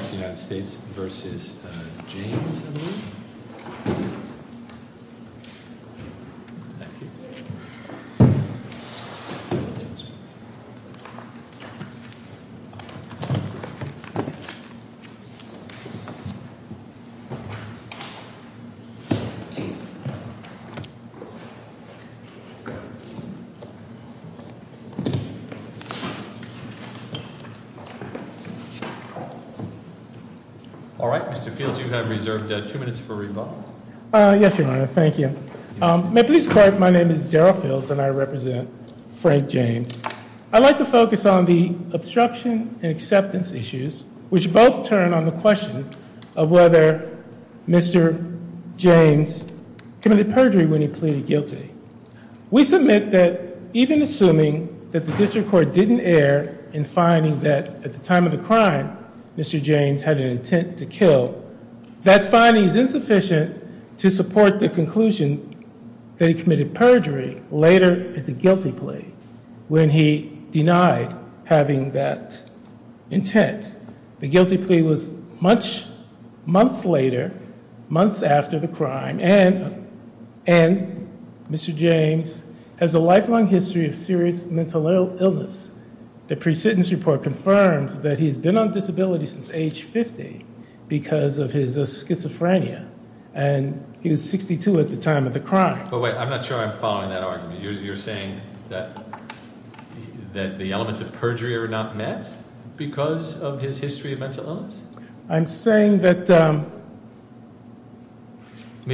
I believe. Thank you. Thank you. Thank you. Thank you. Thank you. Thank you. All right. Mr. Fields, you have reserved two minutes for rebuttal. Yes, Your Honor. Thank you. May I please correct, my name is Darryl Fields and I represent Frank James. I'd like to focus on the obstruction and acceptance issues, which both turn on the question of whether Mr. James committed perjury when he pleaded guilty. We submit that even assuming that the district court didn't err in finding that at the time of the crime, Mr. James had an intent to kill, that finding is insufficient to support the conclusion that he committed perjury later at the guilty plea when he denied having that intent. The guilty plea was much, months later, months after the crime, and Mr. James has a lifelong history of serious mental illness. The pre-sentence report confirms that he's been on disability since age 50 because of his schizophrenia, and he was 62 at the time of the crime. But wait, I'm not sure I'm following that argument. You're saying that the elements of perjury are not met because of his history of mental illness? I'm saying that- The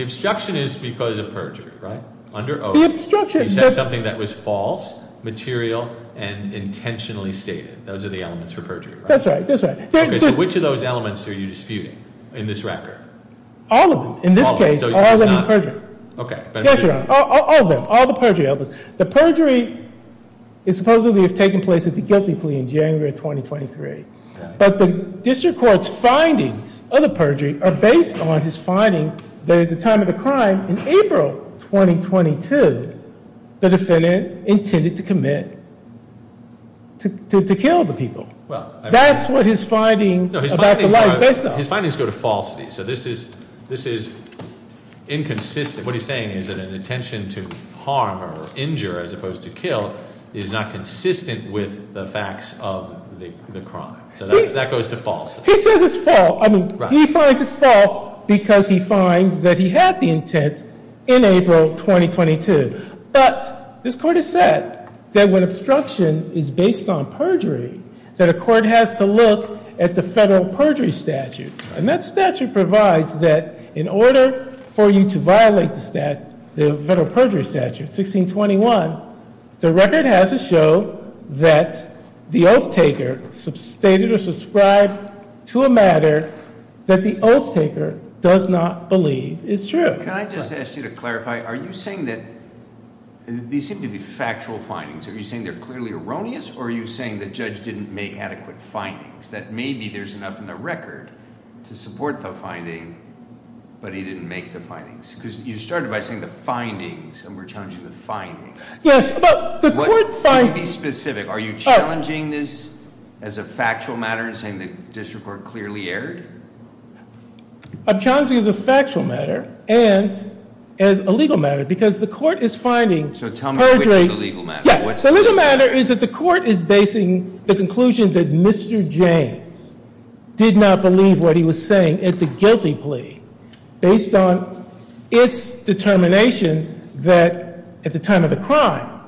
obstruction is because of perjury, right? Under oath. The obstruction- You said something that was false, material, and intentionally stated. Those are the elements for perjury, right? That's right. That's right. Okay, so which of those elements are you disputing in this record? All of them. In this case, all of them are perjury. Okay, but- Yes, Your Honor. All of them. All the perjury elements. The perjury is supposedly if taken place at the guilty plea in January of 2023, but the district court's findings of the perjury are based on his finding that at the time of the crime in April 2022, the defendant intended to commit to kill the people. That's what his finding about the lie is based on. His findings go to falsity, so this is inconsistent. What he's saying is that an intention to harm or injure as opposed to kill is not consistent with the facts of the crime, so that goes to false. He says it's false. I mean, he finds it's false because he finds that he had the intent in April 2022, but this court has said that when obstruction is based on perjury, that a court has to look at the federal perjury statute. That statute provides that in order for you to violate the federal perjury statute, 1621, the record has to show that the oath taker stated or subscribed to a matter that the oath taker does not believe is true. Can I just ask you to clarify, are you saying that these seem to be factual findings? Are you saying they're clearly erroneous, or are you saying the judge didn't make adequate findings? That maybe there's enough in the record to support the finding, but he didn't make the Because you started by saying the findings, and we're challenging the findings. Yes. But the court finds- Can you be specific? Are you challenging this as a factual matter and saying the district court clearly erred? I'm challenging it as a factual matter and as a legal matter, because the court is finding perjury- So tell me which is the legal matter. What's the- Because the court is basing the conclusion that Mr. James did not believe what he was saying at the guilty plea based on its determination that at the time of the crime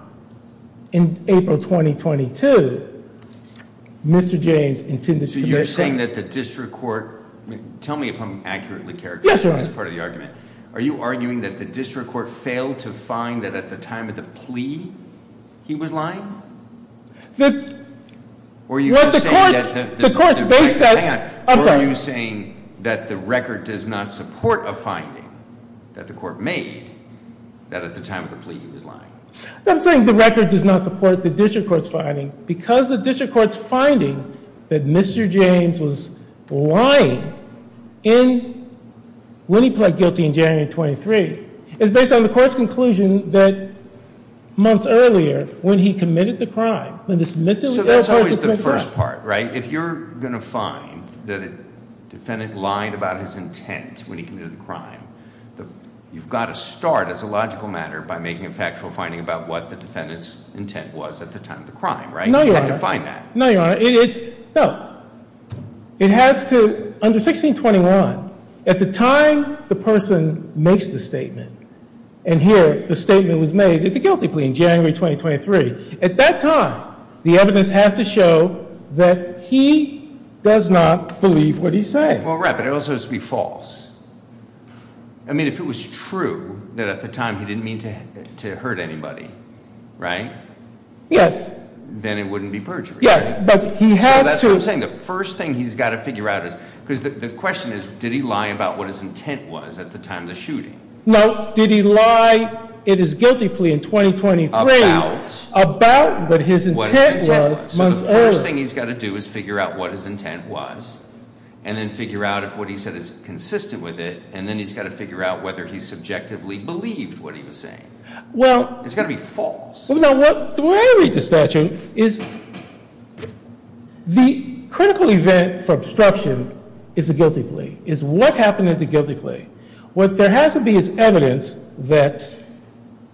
in April 2022, Mr. James intended to commit- So you're saying that the district court- Tell me if I'm accurately characterizing this part of the argument. Are you arguing that the district court failed to find that at the time of the plea he was lying? Were you saying that the record does not support a finding that the court made that at the time of the plea he was lying? I'm saying the record does not support the district court's finding because the district court's finding that Mr. James was lying when he pled guilty in January of 23 is based on the court's conclusion that months earlier when he committed the crime, when this mentally ill person committed the crime- So that's always the first part, right? If you're going to find that a defendant lied about his intent when he committed the crime, you've got to start as a logical matter by making a factual finding about what the defendant's intent was at the time of the crime, right? No, Your Honor. You have to find that. No, Your Honor. It has to, under 1621, at the time the person makes the statement, and here the statement was made, it's a guilty plea in January 2023. At that time, the evidence has to show that he does not believe what he's saying. Well, right, but it also has to be false. I mean, if it was true that at the time he didn't mean to hurt anybody, right? Yes. Then it wouldn't be perjury. Yes. But he has to- The first thing he's got to figure out is, because the question is, did he lie about what his intent was at the time of the shooting? No. Did he lie, it is a guilty plea in 2023, about what his intent was months earlier? So the first thing he's got to do is figure out what his intent was, and then figure out if what he said is consistent with it, and then he's got to figure out whether he subjectively believed what he was saying. Well- It's got to be false. Well, now, the way I read the statute is the critical event for obstruction is a guilty plea. It's what happened at the guilty plea. What there has to be is evidence that,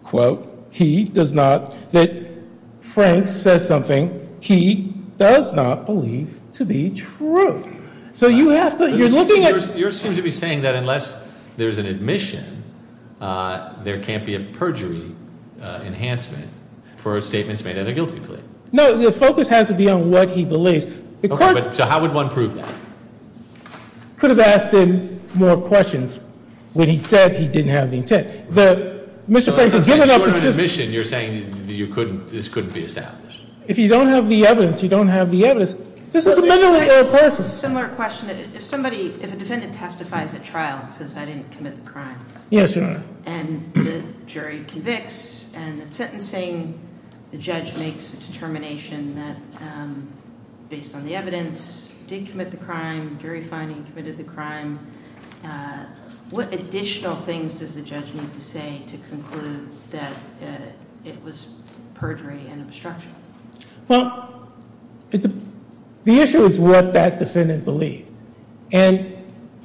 quote, he does not, that Frank says something he does not believe to be true. So you have to- You're looking at- Unless there's an admission, there can't be a perjury enhancement for statements made at a guilty plea. No. The focus has to be on what he believes. The court- So how would one prove that? Could have asked him more questions when he said he didn't have the intent. The- Mr. Frazier, given- Short of an admission, you're saying you couldn't, this couldn't be established. If you don't have the evidence, you don't have the evidence. This is a mentally ill person. I have a similar question. If somebody, if a defendant testifies at trial and says, I didn't commit the crime- Yes, Your Honor. And the jury convicts, and it's sentencing, the judge makes a determination that, based on the evidence, did commit the crime, jury finding, committed the crime. What additional things does the judge need to say to conclude that it was perjury and Well, the issue is what that defendant believed. And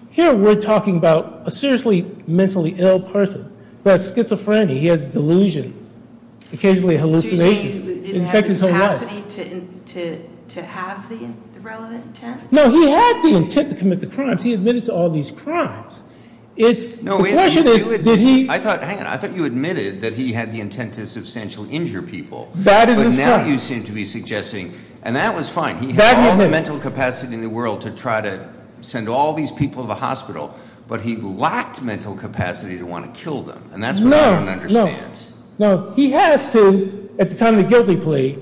here we're talking about a seriously mentally ill person. That's schizophrenic. He has delusions, occasionally hallucinations, it affects his whole life. Did he have the capacity to have the relevant intent? No, he had the intent to commit the crimes. He admitted to all these crimes. It's- No, wait a minute. The question is, did he- I thought, hang on, I thought you admitted that he had the intent to substantially injure people. That is a- But now you seem to be suggesting, and that was fine, he had all the mental capacity in the world to try to send all these people to the hospital, but he lacked mental capacity to want to kill them. And that's what I don't understand. No, no. No, he has to, at the time of the guilty plea,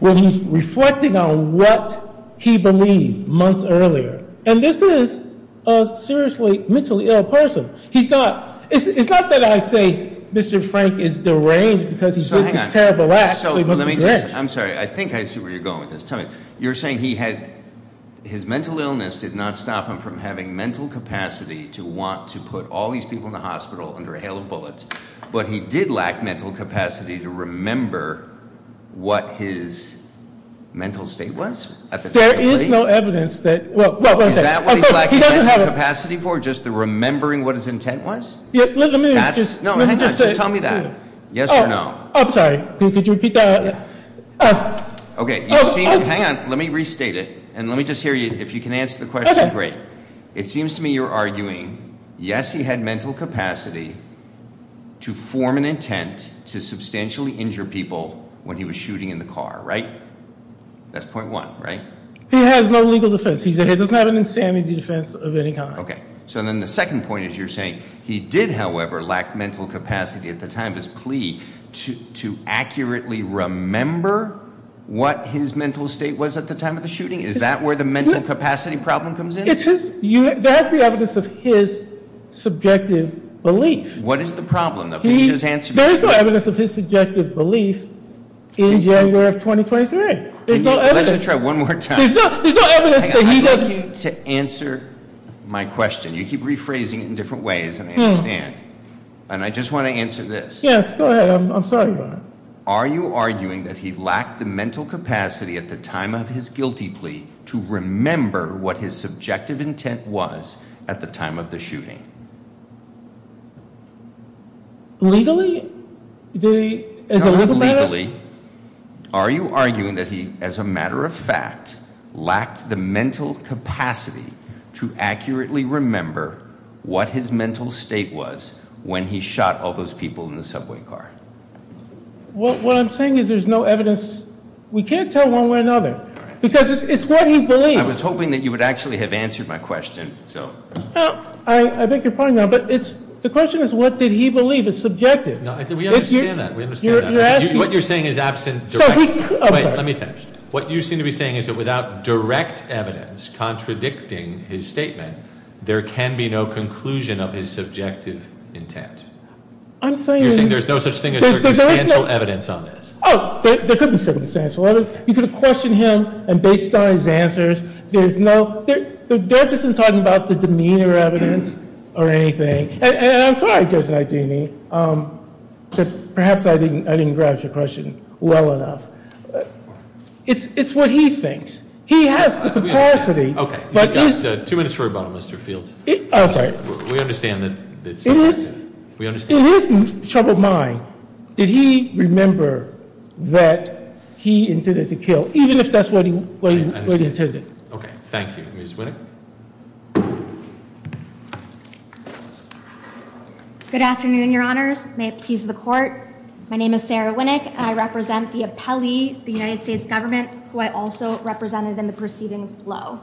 when he's reflecting on what he believed months earlier, and this is a seriously mentally ill person, he's not, it's not that I say Mr. Frank is deranged because he's lived this terrible life, so he must be deranged. I'm sorry, I think I see where you're going with this, tell me. You're saying he had, his mental illness did not stop him from having mental capacity to want to put all these people in the hospital under a hail of bullets, but he did lack mental capacity to remember what his mental state was at the time of the plea? There is no evidence that, well, one second- Is that what he's lacking mental capacity for, just the remembering what his intent was? Yeah, let me just- No, hang on, just tell me that. Yes or no? I'm sorry, could you repeat that? Okay, you seem to, hang on, let me restate it, and let me just hear you, if you can answer the question, great. It seems to me you're arguing, yes, he had mental capacity to form an intent to substantially injure people when he was shooting in the car, right? That's point one, right? He has no legal defense, he doesn't have an insanity defense of any kind. Okay, so then the second point is you're saying he did, however, lack mental capacity at the time of his plea to accurately remember what his mental state was at the time of the shooting? Is that where the mental capacity problem comes in? It's his, there has to be evidence of his subjective belief. What is the problem, though? Can you just answer me? There is no evidence of his subjective belief in January of 2023, there's no evidence. Let's just try one more time. There's no evidence that he doesn't- I'm looking to answer my question. You keep rephrasing it in different ways, and I understand, and I just want to answer this. Yes, go ahead. I'm sorry about it. Are you arguing that he lacked the mental capacity at the time of his guilty plea to remember what his subjective intent was at the time of the shooting? Legally, did he, as a legal matter? What I'm saying is there's no evidence. We can't tell one way or another, because it's what he believed. I was hoping that you would actually have answered my question, so. I beg your pardon, but the question is what did he believe is subjective? We understand that, we understand that. What you're saying is absent- I'm sorry. Wait, let me finish. What you seem to be saying is that without direct evidence contradicting his statement, there can be no conclusion of his subjective intent. I'm saying- You're saying there's no such thing as circumstantial evidence on this? Oh, there could be circumstantial evidence. You could question him, and based on his answers, there's no- The judge isn't talking about the demeanor evidence or anything, and I'm sorry, Judge But perhaps I didn't grasp your question well enough. It's what he thinks. He has the capacity- Okay. You've got two minutes for rebuttal, Mr. Fields. I'm sorry. We understand that- It is- We understand- In his troubled mind, did he remember that he intended to kill, even if that's what he intended? Okay. Thank you. Ms. Winick? Good afternoon, Your Honors. May it please the Court. My name is Sarah Winick, and I represent the appellee, the United States government, who I also represented in the proceedings below.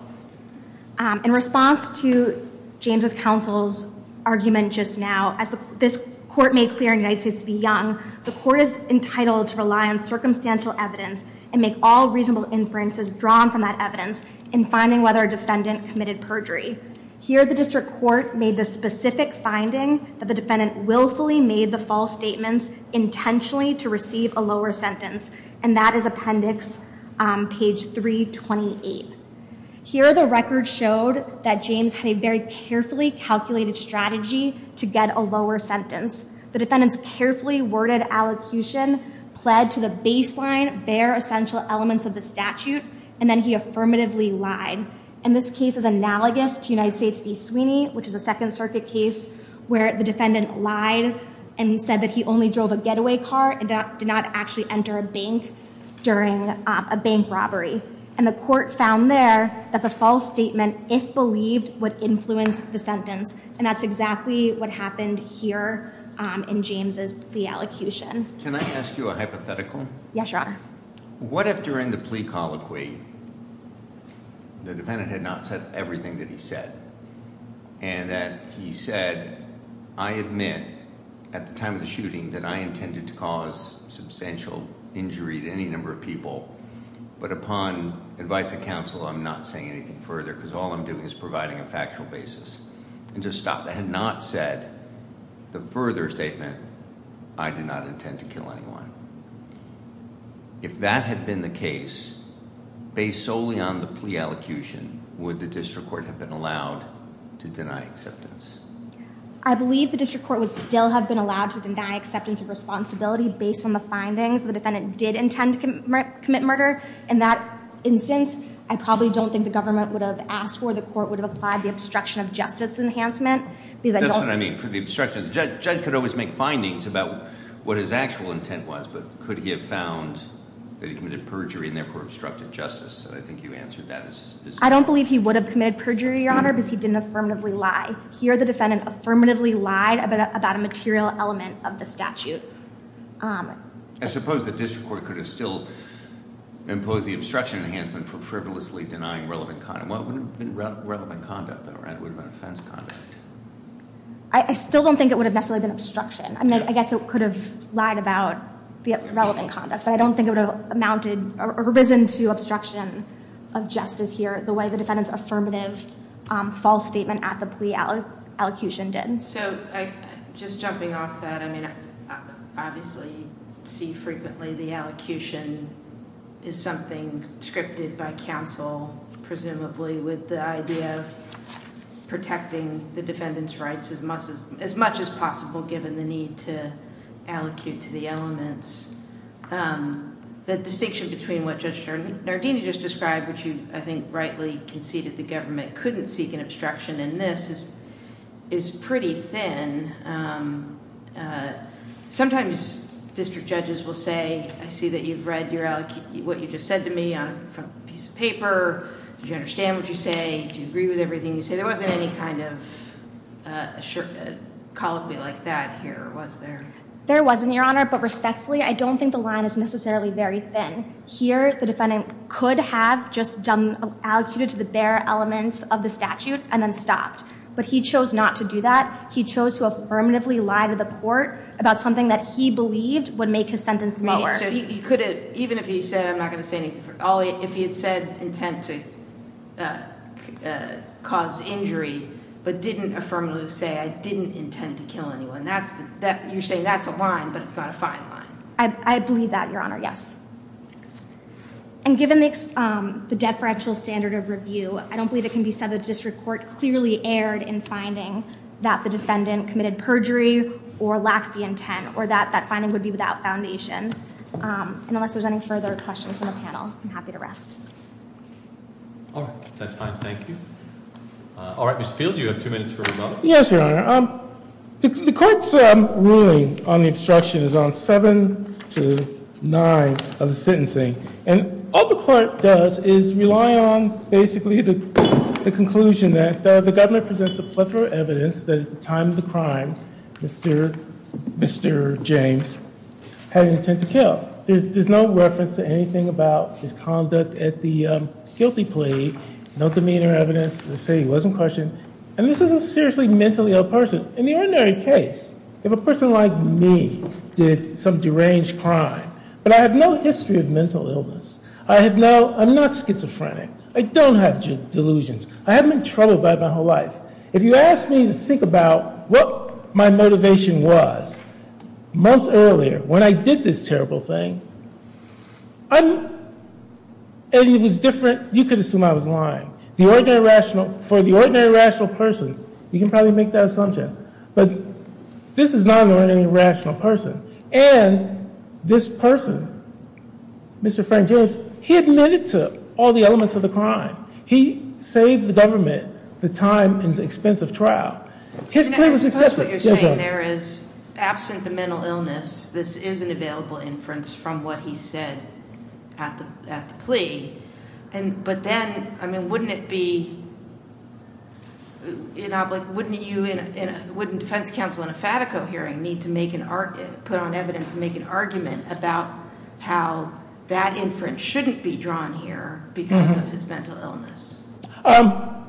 In response to James' counsel's argument just now, as this Court made clear in United States v. Young, the Court is entitled to rely on circumstantial evidence and make all reasonable inferences drawn from that evidence in finding whether a defendant committed perjury. Here the District Court made the specific finding that the defendant willfully made the false statements intentionally to receive a lower sentence, and that is Appendix page 328. Here the record showed that James had a very carefully calculated strategy to get a lower sentence. The defendant's carefully worded allocution pled to the baseline, bare essential elements of the statute, and then he affirmatively lied. And this case is analogous to United States v. Sweeney, which is a Second Circuit case where the defendant lied and said that he only drove a getaway car and did not actually enter a bank during a bank robbery. And the Court found there that the false statement, if believed, would influence the sentence. And that's exactly what happened here in James' allecution. Can I ask you a hypothetical? Yes, Your Honor. What if during the plea colloquy, the defendant had not said everything that he said? And that he said, I admit at the time of the shooting that I intended to cause substantial injury to any number of people, but upon advice of counsel, I'm not saying anything further because all I'm doing is providing a factual basis. And just stop. If the defendant had not said the further statement, I did not intend to kill anyone. If that had been the case, based solely on the plea allocution, would the District Court have been allowed to deny acceptance? I believe the District Court would still have been allowed to deny acceptance of responsibility based on the findings. The defendant did intend to commit murder. In that instance, I probably don't think the government would have asked for, the Court would have applied the obstruction of justice enhancement. That's what I mean. For the obstruction. The judge could always make findings about what his actual intent was, but could he have found that he committed perjury and therefore obstructed justice? I think you answered that. I don't believe he would have committed perjury, Your Honor, because he didn't affirmatively lie. Here, the defendant affirmatively lied about a material element of the statute. I suppose the District Court could have still imposed the obstruction enhancement for frivolously denying relevant content. What would have been relevant conduct, though? It would have been offense conduct. I still don't think it would have necessarily been obstruction. I guess it could have lied about the relevant conduct, but I don't think it would have amounted or risen to obstruction of justice here the way the defendant's affirmative false statement at the plea allocution did. Just jumping off that, I mean, obviously you see frequently the allocution is something that is scripted by counsel, presumably, with the idea of protecting the defendant's rights as much as possible given the need to allocute to the elements. The distinction between what Judge Nardini just described, which you, I think, rightly conceded the government couldn't seek an obstruction in this, is pretty thin. Sometimes district judges will say, I see that you've read what you just said to me on a piece of paper. Do you understand what you say? Do you agree with everything you say? There wasn't any kind of colloquy like that here, was there? There wasn't, Your Honor, but respectfully, I don't think the line is necessarily very thin. Here, the defendant could have just done, allocated to the bare elements of the statute and then stopped. But he chose not to do that. He chose to affirmatively lie to the court about something that he believed would make his sentence lower. So he could have, even if he said, I'm not going to say anything, if he had said intent to cause injury, but didn't affirmatively say, I didn't intend to kill anyone, you're saying that's a line, but it's not a fine line. I believe that, Your Honor, yes. And given the deferential standard of review, I don't believe it can be said that the district court clearly erred in finding that the defendant committed perjury or lacked the intent or that that finding would be without foundation. And unless there's any further questions from the panel, I'm happy to rest. All right. That's fine. Thank you. All right, Mr. Fields, you have two minutes for rebuttal. Yes, Your Honor. The court's ruling on the obstruction is on 7 to 9 of the sentencing. And all the court does is rely on, basically, the conclusion that the governor presents a plethora of evidence that at the time of the crime, Mr. James had intent to kill. There's no reference to anything about his conduct at the guilty plea, no demeanor evidence to say he wasn't questioned. And this is a seriously mentally ill person. In the ordinary case, if a person like me did some deranged crime, but I have no history of mental illness, I have no, I'm not schizophrenic, I don't have delusions, I haven't been troubled by it my whole life, if you ask me to think about what my motivation was months earlier when I did this terrible thing, I'm, and it was different, you could assume I was lying. The ordinary rational, for the ordinary rational person, you can probably make that assumption, but this is not an ordinary rational person. And this person, Mr. Frank James, he admitted to all the elements of the crime. He saved the government the time and expense of trial. His plea was accepted. I suppose what you're saying there is, absent the mental illness, this is an available inference from what he said at the plea, but then, I mean, wouldn't it be, wouldn't you, wouldn't defense counsel in a FATACO hearing need to make an, put on evidence and make an argument about how that inference shouldn't be drawn here because of his mental illness?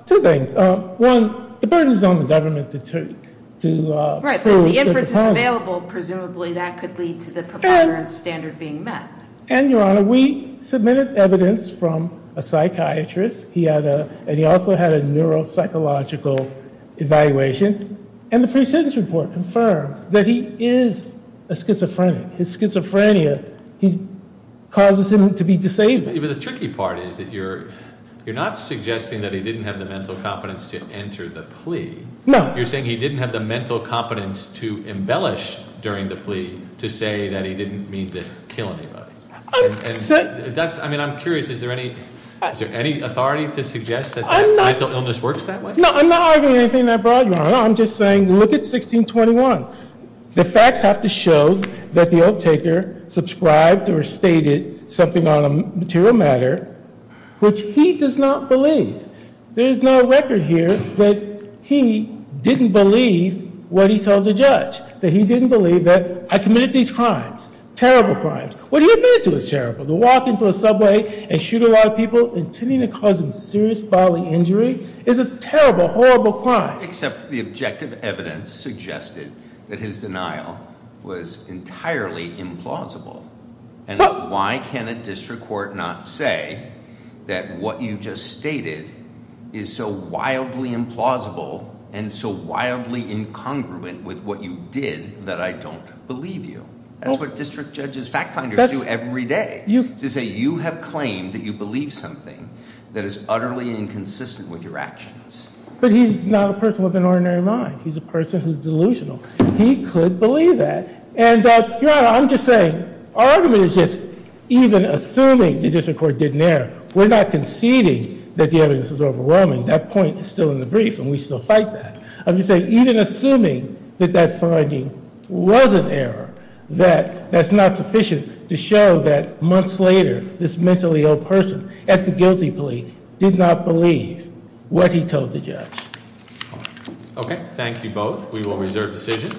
Two things. One, the burden is on the government to prove that the power is there. Right, but if the inference is available, presumably that could lead to the provider and standard being met. And Your Honor, we submitted evidence from a psychiatrist, he had a, and he also had a neuropsychological evaluation, and the precedence report confirms that he is a schizophrenic. His schizophrenia, he's, causes him to be disabled. But the tricky part is that you're, you're not suggesting that he didn't have the mental competence to enter the plea. No. You're saying he didn't have the mental competence to embellish during the plea to say that he didn't mean to kill anybody. I'm, so. That's, I mean, I'm curious, is there any, is there any authority to suggest that that mental illness works that way? No, I'm not arguing anything that broad, Your Honor. I'm just saying, look at 1621. The facts have to show that the oath taker subscribed or stated something on a material matter, which he does not believe. There's no record here that he didn't believe what he told the judge, that he didn't believe that I committed these crimes, terrible crimes. What do you admit to as terrible? To walk into a subway and shoot a lot of people, intending to cause them serious bodily injury, is a terrible, horrible crime. I accept the objective evidence suggested that his denial was entirely implausible. And why can a district court not say that what you just stated is so wildly implausible and so wildly incongruent with what you did that I don't believe you? That's what district judges, fact finders do every day. To say you have claimed that you believe something that is utterly inconsistent with your actions. But he's not a person with an ordinary mind. He's a person who's delusional. He could believe that. And Your Honor, I'm just saying, our argument is just, even assuming the district court did an error, we're not conceding that the evidence is overwhelming, that point is still in the brief and we still fight that. I'm just saying, even assuming that that finding was an error, that that's not sufficient to show that months later, this mentally ill person at the guilty plea did not believe what he told the judge. Okay, thank you both. We will reserve decision.